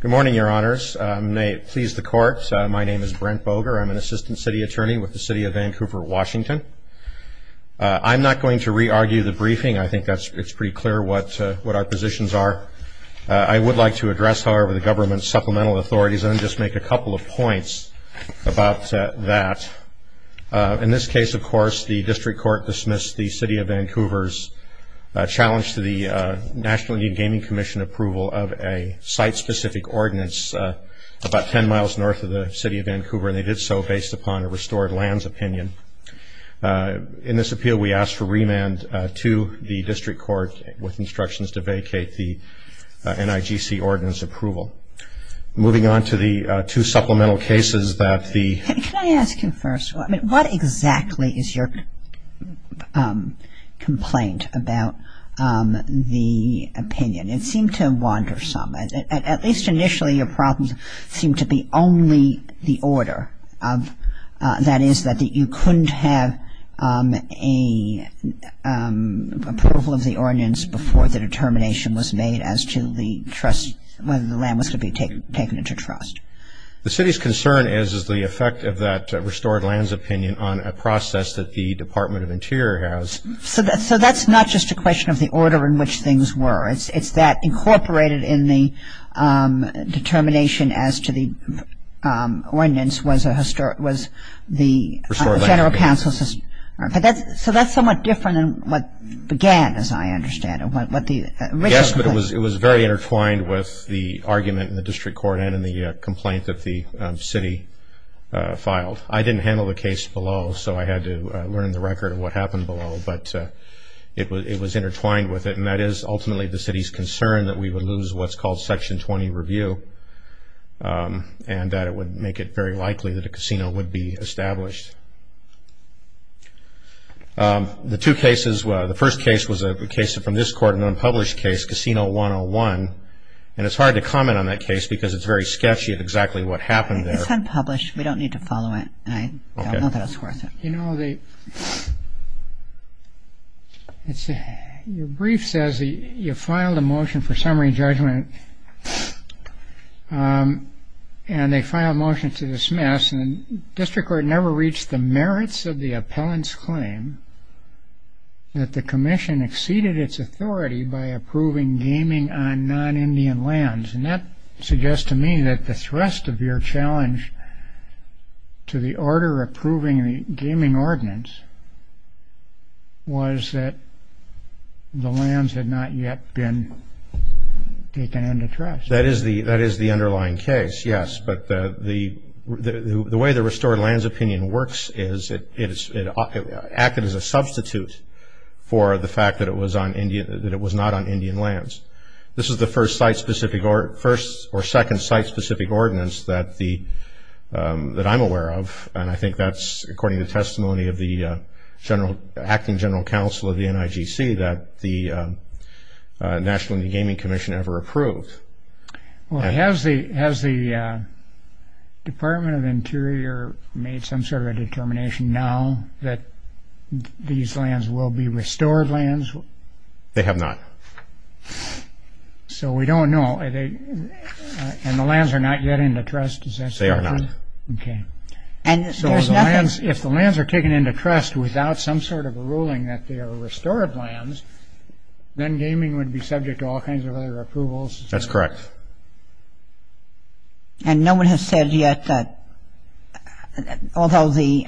Good morning, your honors. May it please the court. My name is Brent Boger. I'm an assistant city attorney with the city of Vancouver, Washington. I'm not going to re-argue the briefing. I think it's pretty clear what our positions are. I would like to address, however, the government's supplemental authorities and just make a couple of points about that. In this case, of course, the district court dismissed the city of Vancouver's challenge to the National Indian Gaming Commission in approval of a site-specific ordinance about 10 miles north of the city of Vancouver, and they did so based upon a restored lands opinion. In this appeal, we asked for remand to the district court with instructions to vacate the NIGC ordinance approval. Moving on to the two supplemental cases that the- Can I ask you first, what exactly is your complaint about the opinion? It seemed to wander some. At least initially, your problems seemed to be only the order. That is, that you couldn't have approval of the ordinance before the determination was made as to the trust, whether the land was to be taken into trust. The city's concern is the effect of that restored lands opinion on a process that the Department of Interior has. So that's not just a question of the order in which things were. It's that incorporated in the determination as to the ordinance was the general counsel's- So that's somewhat different than what began, as I understand it. Yes, but it was very intertwined with the argument in the district court and in the complaint that the city filed. I didn't handle the case below, so I had to learn the record of what happened below. But it was intertwined with it. And that is ultimately the city's concern that we would lose what's called Section 20 review and that it would make it very likely that a casino would be established. The two cases, the first case was a case from this court, an unpublished case, Casino 101. And it's hard to comment on that case because it's very sketchy at exactly what happened there. It's unpublished. We don't need to follow it. I don't know that it's worth it. You know, your brief says you filed a motion for summary judgment, and they filed a motion to dismiss. And the district court never reached the merits of the appellant's claim that the commission exceeded its authority by approving gaming on non-Indian lands. And that suggests to me that the thrust of your challenge to the order approving the gaming ordinance was that the lands had not yet been taken into trust. That is the underlying case, yes. But the way the restored lands opinion works is it acted as a substitute for the fact that it was not on Indian lands. This is the first site-specific or second site-specific ordinance that I'm aware of, and I think that's according to testimony of the acting general counsel of the NIGC that the National Indian Gaming Commission ever approved. Well, has the Department of Interior made some sort of a determination now that these lands will be restored lands? They have not. So we don't know. And the lands are not yet in the trust? They are not. Okay. So if the lands are taken into trust without some sort of a ruling that they are restored lands, then gaming would be subject to all kinds of other approvals? That's correct. And no one has said yet that although the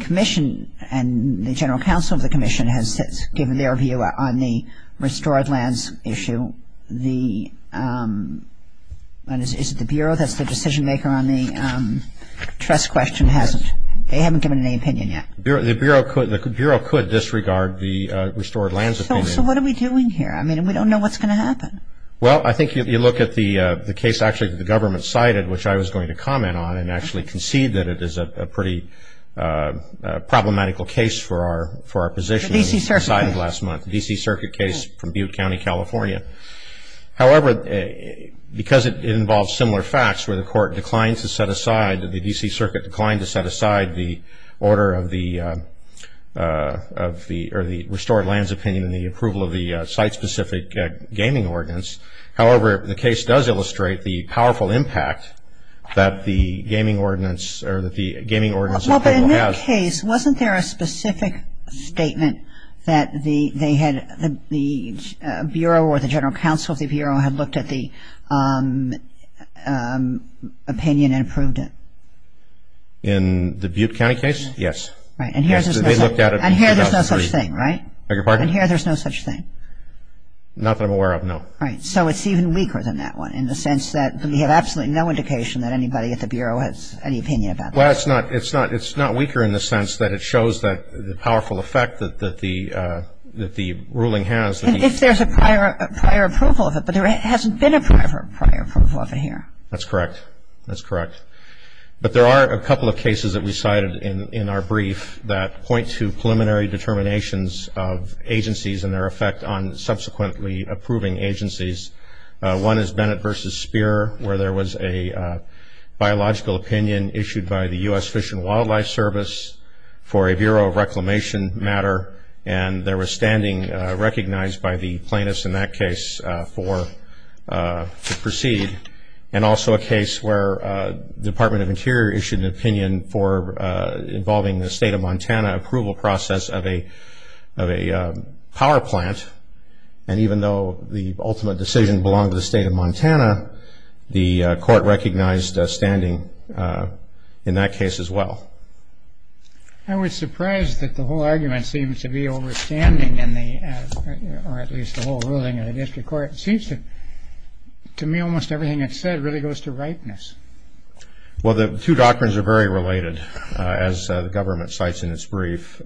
commission and the general counsel of the commission has given their view on the restored lands issue, is it the Bureau that's the decision maker on the trust question? They haven't given any opinion yet. The Bureau could disregard the restored lands opinion. So what are we doing here? I mean, we don't know what's going to happen. Well, I think if you look at the case actually that the government cited, which I was going to comment on and actually concede that it is a pretty problematical case for our position. The D.C. Circuit. The D.C. Circuit case from Butte County, California. However, because it involves similar facts where the court declined to set aside, the D.C. Circuit declined to set aside the order of the restored lands opinion and the approval of the site-specific gaming ordinance. However, the case does illustrate the powerful impact that the gaming ordinance has. Well, but in that case, wasn't there a specific statement that the Bureau or the general counsel of the Bureau had looked at the opinion and approved it? In the Butte County case? Yes. Right. And here there's no such thing, right? I beg your pardon? And here there's no such thing? Not that I'm aware of, no. Right. So it's even weaker than that one in the sense that we have absolutely no indication that anybody at the Bureau has any opinion about this. Well, it's not weaker in the sense that it shows the powerful effect that the ruling has. And if there's a prior approval of it, but there hasn't been a prior approval of it here. That's correct. That's correct. But there are a couple of cases that we cited in our brief that point to preliminary determinations of agencies and their effect on subsequently approving agencies. One is Bennett v. Spear, where there was a biological opinion issued by the U.S. Fish and Wildlife Service for a Bureau of Reclamation matter, and there was standing recognized by the plaintiffs in that case to proceed. And also a case where the Department of Interior issued an opinion for involving the state of Montana in the approval process of a power plant, and even though the ultimate decision belonged to the state of Montana, the court recognized standing in that case as well. I was surprised that the whole argument seemed to be over standing, or at least the whole ruling in the district court. It seems to me almost everything it said really goes to ripeness. Well, the two doctrines are very related, as the government cites in its brief.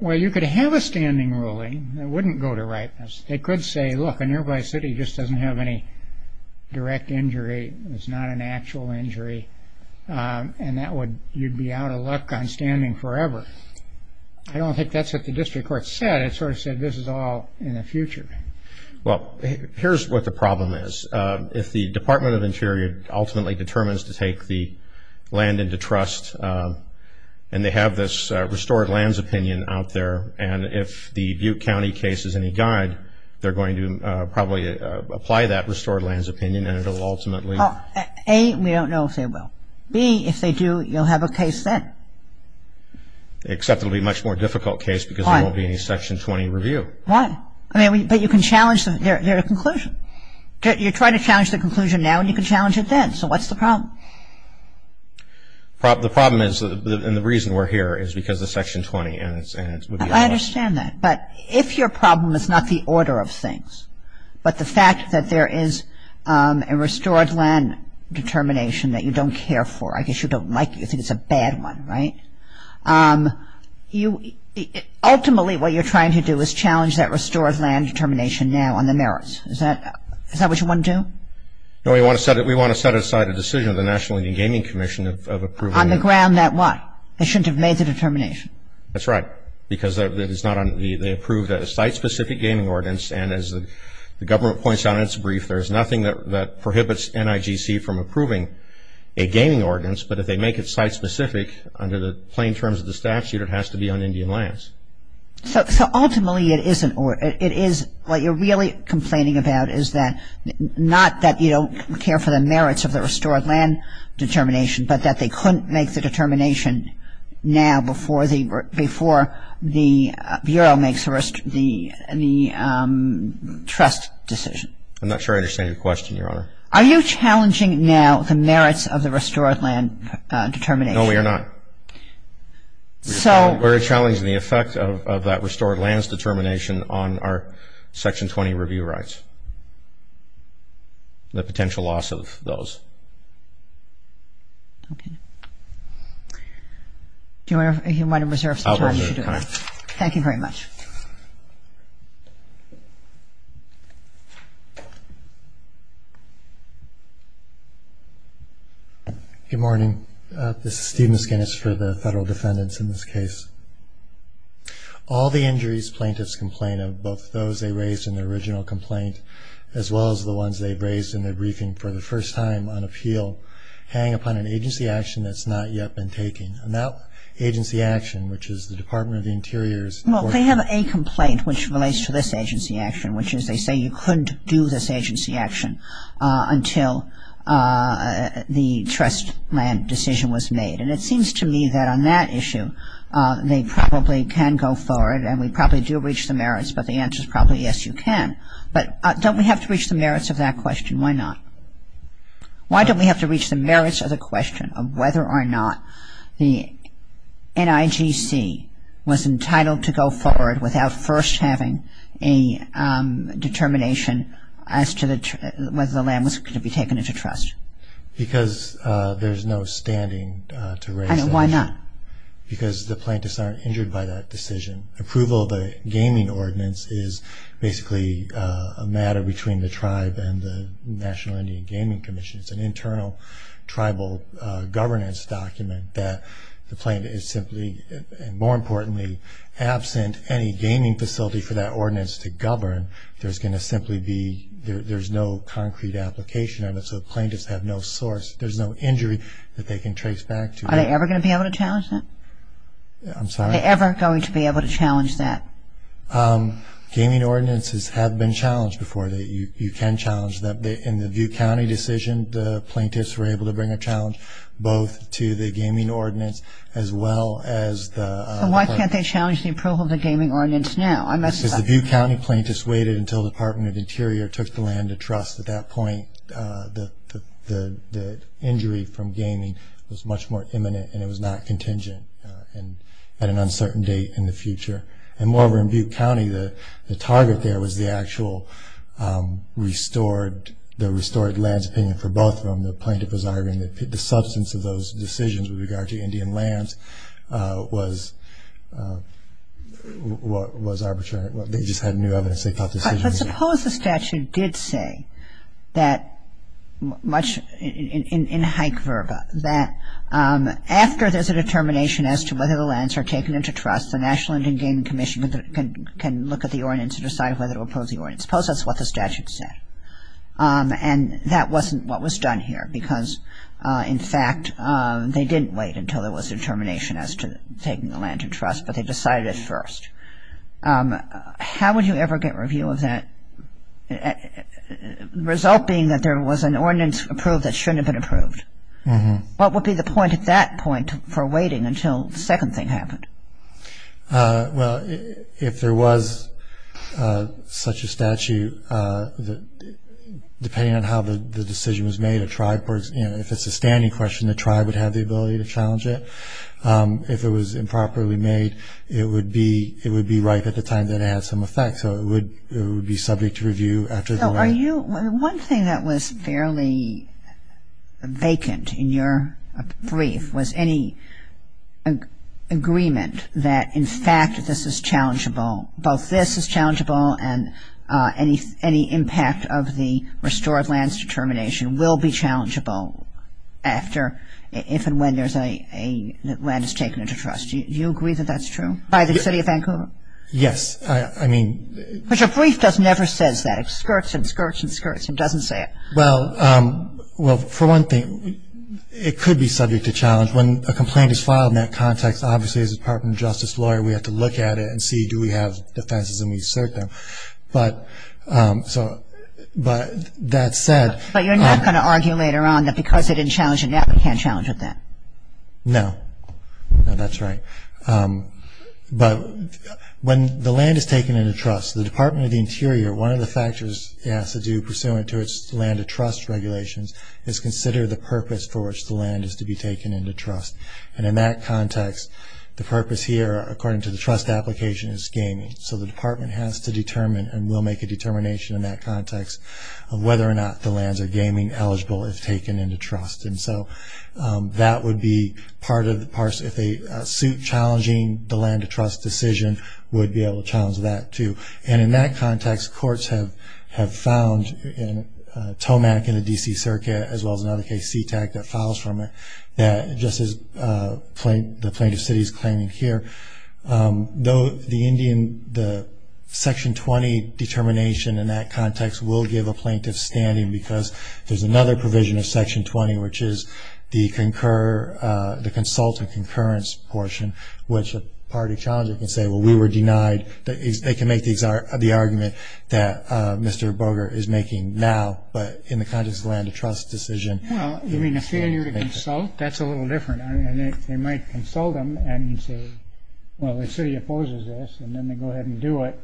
Well, you could have a standing ruling that wouldn't go to ripeness. They could say, look, a nearby city just doesn't have any direct injury. It's not an actual injury, and you'd be out of luck on standing forever. I don't think that's what the district court said. It sort of said this is all in the future. Well, here's what the problem is. If the Department of Interior ultimately determines to take the land into trust and they have this restored lands opinion out there, and if the Butte County case is any guide, they're going to probably apply that restored lands opinion and it will ultimately. A, we don't know if they will. B, if they do, you'll have a case then. Except it will be a much more difficult case because there won't be any Section 20 review. Why? I mean, but you can challenge their conclusion. You're trying to challenge their conclusion now, and you can challenge it then. So what's the problem? The problem is, and the reason we're here, is because of Section 20. I understand that. But if your problem is not the order of things, but the fact that there is a restored land determination that you don't care for, I guess you don't like it, you think it's a bad one, right? Ultimately, what you're trying to do is challenge that restored land determination now on the merits. Is that what you want to do? No, we want to set aside a decision of the National Indian Gaming Commission of approving it. On the ground that what? They shouldn't have made the determination. That's right, because they approved a site-specific gaming ordinance, and as the government points out in its brief, there's nothing that prohibits NIGC from approving a gaming ordinance, but if they make it site-specific under the plain terms of the statute, it has to be on Indian lands. So ultimately, it is what you're really complaining about, is that not that you don't care for the merits of the restored land determination, but that they couldn't make the determination now before the Bureau makes the trust decision. I'm not sure I understand your question, Your Honor. Are you challenging now the merits of the restored land determination? No, we are not. We're challenging the effect of that restored lands determination on our Section 20 review rights, the potential loss of those. Okay. Do you want to reserve some time? I'll reserve time. Thank you very much. Good morning. This is Steve Miskinnis for the Federal Defendants in this case. All the injuries plaintiffs complain of, both those they raised in the original complaint, as well as the ones they've raised in their briefing for the first time on appeal, hang upon an agency action that's not yet been taken. And that agency action, which is the Department of the Interior's- Well, they have a complaint which relates to this agency action, which is they say you couldn't do this agency action until the trust land decision was made. And it seems to me that on that issue they probably can go forward and we probably do reach the merits, but the answer is probably yes, you can. But don't we have to reach the merits of that question? Why not? Why don't we have to reach the merits of the question of whether or not the NIGC was entitled to go forward without first having a determination as to whether the land was going to be taken into trust? Because there's no standing to raise that issue. Why not? Because the plaintiffs aren't injured by that decision. Approval of the gaming ordinance is basically a matter between the tribe and the National Indian Gaming Commission. And more importantly, absent any gaming facility for that ordinance to govern, there's going to simply be- there's no concrete application of it. So the plaintiffs have no source. There's no injury that they can trace back to. Are they ever going to be able to challenge that? I'm sorry? Are they ever going to be able to challenge that? Gaming ordinances have been challenged before. You can challenge that. In the View County decision, the plaintiffs were able to bring a challenge both to the gaming ordinance as well as the- So why can't they challenge the approval of the gaming ordinance now? Because the View County plaintiffs waited until the Department of Interior took the land to trust. At that point, the injury from gaming was much more imminent and it was not contingent at an uncertain date in the future. And moreover, in View County, the target there was the actual restored- the restored lands opinion for both of them. And the plaintiff was arguing that the substance of those decisions with regard to Indian lands was arbitrary. They just had new evidence. They thought the decision was- But suppose the statute did say that much- in hank verba, that after there's a determination as to whether the lands are taken into trust, the National Indian Gaming Commission can look at the ordinance and decide whether to oppose the ordinance. Suppose that's what the statute said. And that wasn't what was done here because, in fact, they didn't wait until there was a determination as to taking the land to trust, but they decided it first. How would you ever get review of that? The result being that there was an ordinance approved that shouldn't have been approved. What would be the point at that point for waiting until the second thing happened? Well, if there was such a statute, depending on how the decision was made, if it's a standing question, the tribe would have the ability to challenge it. If it was improperly made, it would be right at the time that it had some effect, so it would be subject to review after the- One thing that was fairly vacant in your brief was any agreement that, in fact, this is challengeable, both this is challengeable and any impact of the restored lands determination will be challengeable after, if and when the land is taken into trust. Do you agree that that's true by the city of Vancouver? Yes, I mean- But your brief never says that. It skirts and skirts and skirts and doesn't say it. Well, for one thing, it could be subject to challenge. When a complaint is filed in that context, obviously as a Department of Justice lawyer, we have to look at it and see do we have defenses and we assert them. But that said- But you're not going to argue later on that because they didn't challenge it now, they can't challenge it then? No. No, that's right. But when the land is taken into trust, the Department of the Interior, one of the factors it has to do pursuant to its land of trust regulations is consider the purpose for which the land is to be taken into trust. And in that context, the purpose here, according to the trust application, is gaming. So the department has to determine and will make a determination in that context of whether or not the lands are gaming eligible if taken into trust. And so that would be part of the- if a suit challenging the land of trust decision would be able to challenge that too. And in that context, courts have found in Tomac and the D.C. Circuit, as well as another case, SeaTac, that files from it, that just as the plaintiff's city is claiming here, the section 20 determination in that context will give a plaintiff standing because there's another provision of section 20, which is the consult and concurrence portion, which a party challenger can say, well, we were denied- they can make the argument that Mr. Boger is making now, but in the context of the land of trust decision- Well, you mean a failure to consult? That's a little different. I mean, they might consult them and say, well, the city opposes this, and then they go ahead and do it.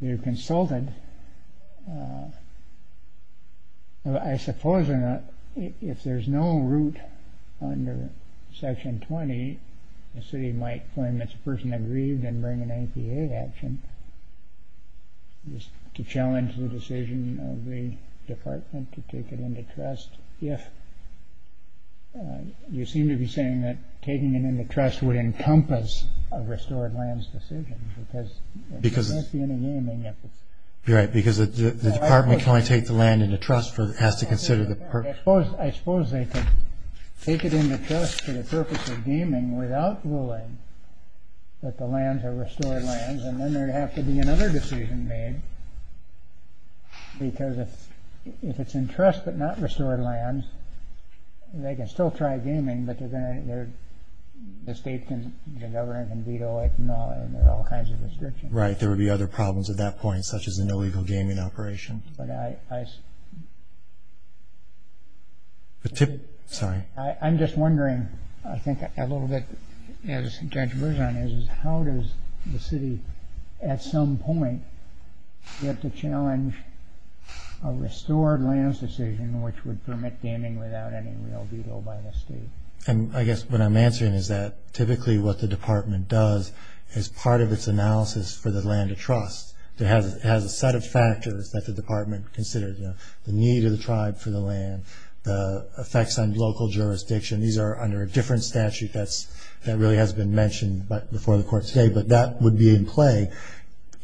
They're consulted. I suppose if there's no root under section 20, the city might claim it's a person that grieved and bring an APA action to challenge the decision of the department to take it into trust if- you seem to be saying that taking it into trust would encompass a restored lands decision because- You're right, because the department can only take the land into trust if it has to consider the purpose. I suppose they can take it into trust for the purpose of gaming without ruling that the lands are restored lands, and then there would have to be another decision made because if it's in trust but not restored lands, they can still try gaming, but the state can veto it and there are all kinds of restrictions. Right, there would be other problems at that point, such as a no legal gaming operation. I'm just wondering, I think a little bit as Judge Berzon is, how does the city at some point get to challenge a restored lands decision which would permit gaming without any real veto by the state? I guess what I'm answering is that typically what the department does is part of its analysis for the land of trust. It has a set of factors that the department considers, the need of the tribe for the land, the effects on local jurisdiction. These are under a different statute that really hasn't been mentioned before the court today, but that would be in play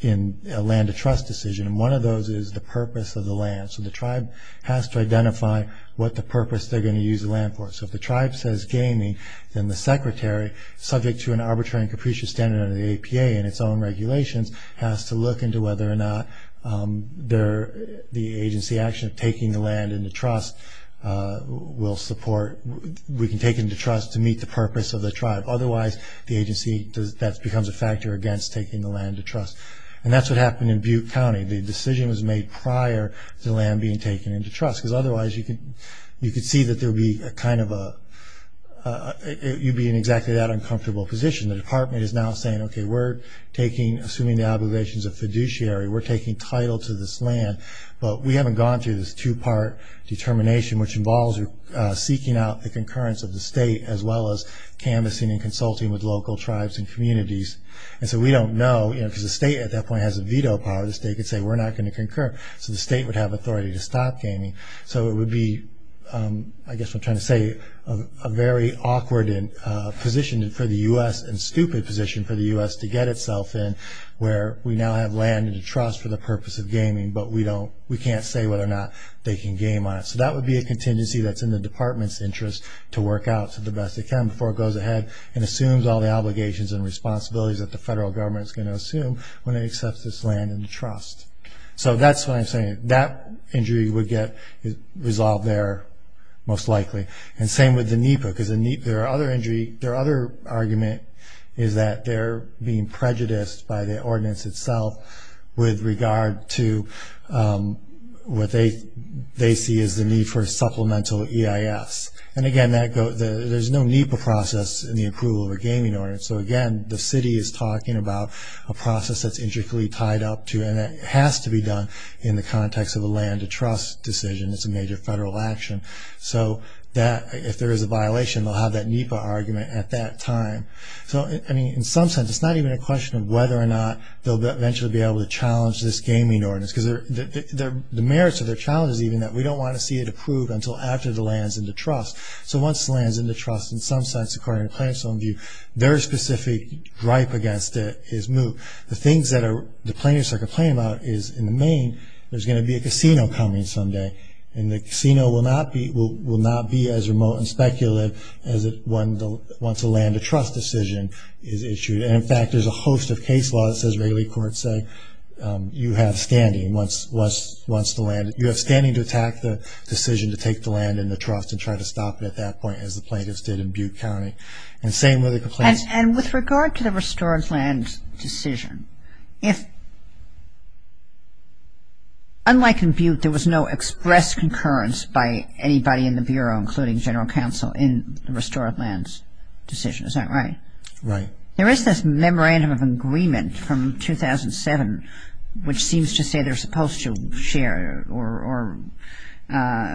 in a land of trust decision and one of those is the purpose of the land. So the tribe has to identify what the purpose they're going to use the land for. So if the tribe says gaming, then the secretary, subject to an arbitrary and capricious standard under the APA and its own regulations, has to look into whether or not the agency action of taking the land into trust will support, we can take it into trust to meet the purpose of the tribe. Otherwise, the agency, that becomes a factor against taking the land into trust. And that's what happened in Butte County. The decision was made prior to the land being taken into trust because otherwise you could see that there would be a kind of a, you'd be in exactly that uncomfortable position. The department is now saying, okay, we're taking, assuming the obligations of fiduciary, we're taking title to this land, but we haven't gone through this two-part determination, which involves seeking out the concurrence of the state as well as canvassing and consulting with local tribes and communities. And so we don't know, you know, because the state at that point has veto power. The state could say, we're not going to concur. So the state would have authority to stop gaming. So it would be, I guess what I'm trying to say, a very awkward position for the U.S. and stupid position for the U.S. to get itself in, where we now have land into trust for the purpose of gaming, but we don't, we can't say whether or not they can game on it. So that would be a contingency that's in the department's interest to work out to the best they can before it goes ahead and assumes all the obligations and responsibilities that the federal government is going to assume when it accepts this land into trust. So that's what I'm saying. That injury would get resolved there most likely. And same with the NEPA, because their other injury, their other argument is that they're being prejudiced by the ordinance itself with regard to what they see as the need for supplemental EIS. And, again, there's no NEPA process in the approval of a gaming ordinance. So, again, the city is talking about a process that's intricately tied up to it and that has to be done in the context of a land to trust decision. It's a major federal action. So if there is a violation, they'll have that NEPA argument at that time. So, I mean, in some sense, it's not even a question of whether or not they'll eventually be able to challenge this gaming ordinance, because the merits of their challenge is even that we don't want to see it approved until after the land's into trust. So once the land's into trust, in some sense, according to Planner's own view, their specific gripe against it is moot. The things that the plaintiffs are complaining about is, in the main, there's going to be a casino coming someday, and the casino will not be as remote and speculative as once a land to trust decision is issued. And, in fact, there's a host of case laws, as regular courts say, you have standing to attack the decision to take the land into trust and try to stop it at that point, as the plaintiffs did in Butte County. And same with the complaints. And with regard to the restored land decision, if unlike in Butte, there was no express concurrence by anybody in the Bureau, including General Counsel, in the restored land decision. Is that right? Right. There is this memorandum of agreement from 2007, which seems to say they're supposed to share or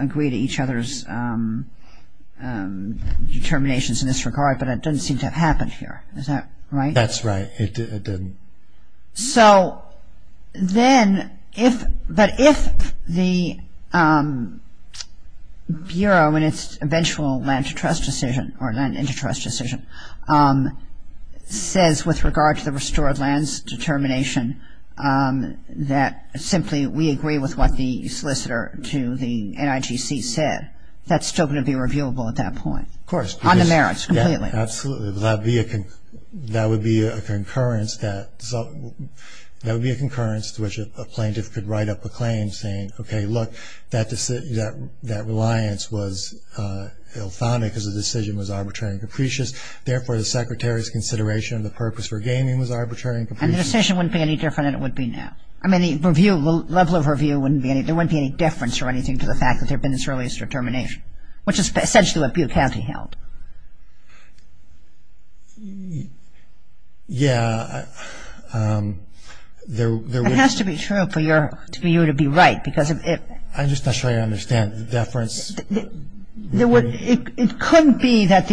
agree to each other's determinations in this regard, but it doesn't seem to have happened here. Is that right? That's right. It didn't. But if the Bureau, in its eventual land to trust decision, or land into trust decision, says with regard to the restored lands determination that simply we agree with what the solicitor to the NIGC said, that's still going to be reviewable at that point. Of course. On the merits, completely. Absolutely. That would be a concurrence to which a plaintiff could write up a claim saying, okay, look, that reliance was ill-founded because the decision was arbitrary and capricious. Therefore, the Secretary's consideration of the purpose for gaining was arbitrary and capricious. And the decision wouldn't be any different than it would be now. I mean, the level of review, there wouldn't be any difference or anything to the fact which is essentially what Butte County held. Yeah. It has to be true for you to be right because of it. I'm just not sure I understand the deference. It couldn't be that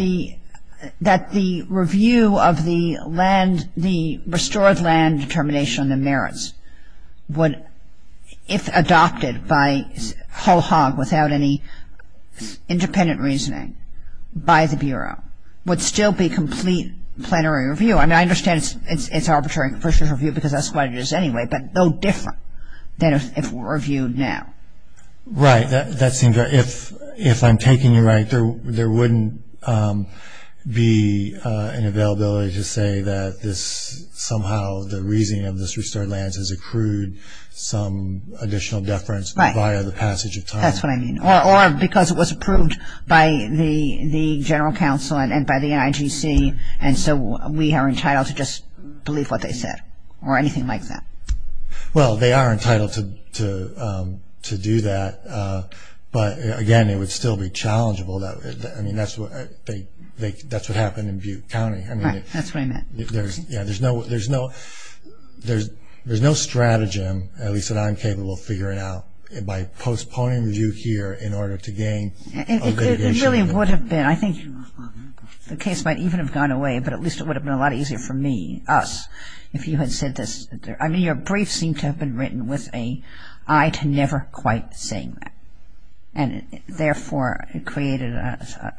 the review of the land, the restored land determination on the merits would, if adopted by Hull-Hogg without any independent reasoning by the Bureau, would still be complete plenary review. I mean, I understand it's arbitrary and capricious review because that's what it is anyway, but no different than if it were reviewed now. Right. That seems right. If I'm taking you right, there wouldn't be an availability to say that this somehow, the reasoning of this restored land has accrued some additional deference via the passage of time. Right. That's what I mean. Or because it was approved by the General Counsel and by the NIGC, and so we are entitled to just believe what they said or anything like that. Well, they are entitled to do that, but, again, it would still be challengeable. I mean, that's what happened in Butte County. Right. That's what I meant. There's no stratagem, at least that I'm capable of figuring out, by postponing review here in order to gain a litigation. It really would have been. I think the case might even have gone away, but at least it would have been a lot easier for me, us, if you had said this. I mean, your brief seemed to have been written with an eye to never quite saying that, and, therefore, it created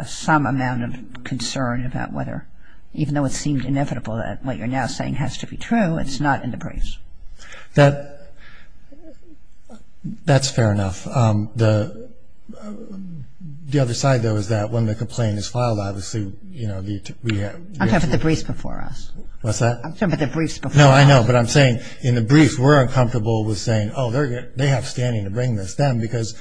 some amount of concern about whether, even though it seemed inevitable that what you're now saying has to be true, it's not in the briefs. That's fair enough. The other side, though, is that when the complaint is filed, obviously, you know, we have to be able to. I'm talking about the briefs before us. What's that? I'm talking about the briefs before us. No, I know, but I'm saying in the briefs we're uncomfortable with saying, oh, they have standing to bring this down because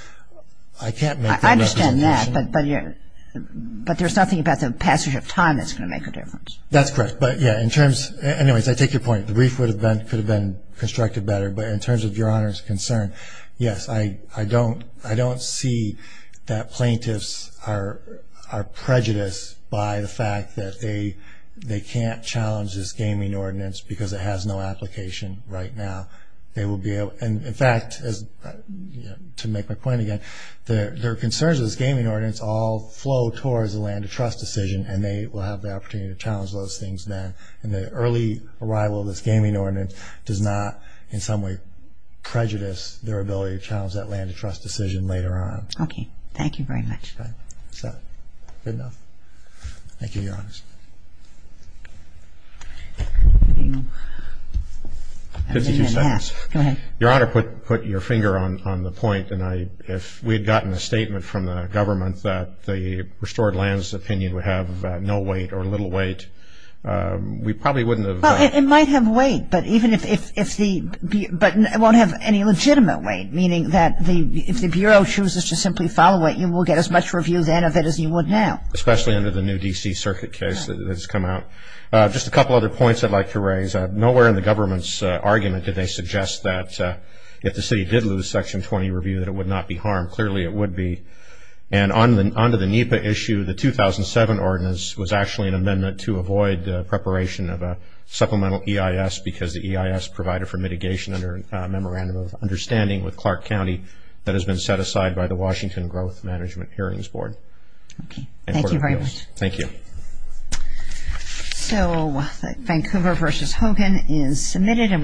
I can't make that representation. I understand that, but there's nothing about the passage of time that's going to make a difference. That's correct, but, yeah, in terms. Anyways, I take your point. The brief could have been constructed better, but in terms of Your Honor's concern, yes, I don't see that plaintiffs are prejudiced by the fact that they can't challenge this gaming ordinance because it has no application right now. And, in fact, to make my point again, their concerns with this gaming ordinance all flow towards the land of trust decision, and they will have the opportunity to challenge those things then. And the early arrival of this gaming ordinance does not, in some way, prejudice their ability to challenge that land of trust decision later on. Okay. Thank you very much. Good. Good enough. Thank you, Your Honor. Next. Fifty-two seconds. Go ahead. Your Honor, put your finger on the point, and if we had gotten a statement from the government that the restored lands opinion would have no weight or little weight, we probably wouldn't have. Well, it might have weight, but it won't have any legitimate weight, meaning that if the Bureau chooses to simply follow it, you will get as much review then of it as you would now. Especially under the new D.C. Circuit case that has come out. Just a couple other points I'd like to raise. Nowhere in the government's argument did they suggest that if the city did lose Section 20 review, that it would not be harmed. Clearly, it would be. And onto the NEPA issue, the 2007 ordinance was actually an amendment to avoid preparation of a supplemental EIS because the EIS provided for mitigation under a memorandum of understanding with Clark County that has been set aside by the Washington Growth Management Hearings Board. Thank you very much. Thank you.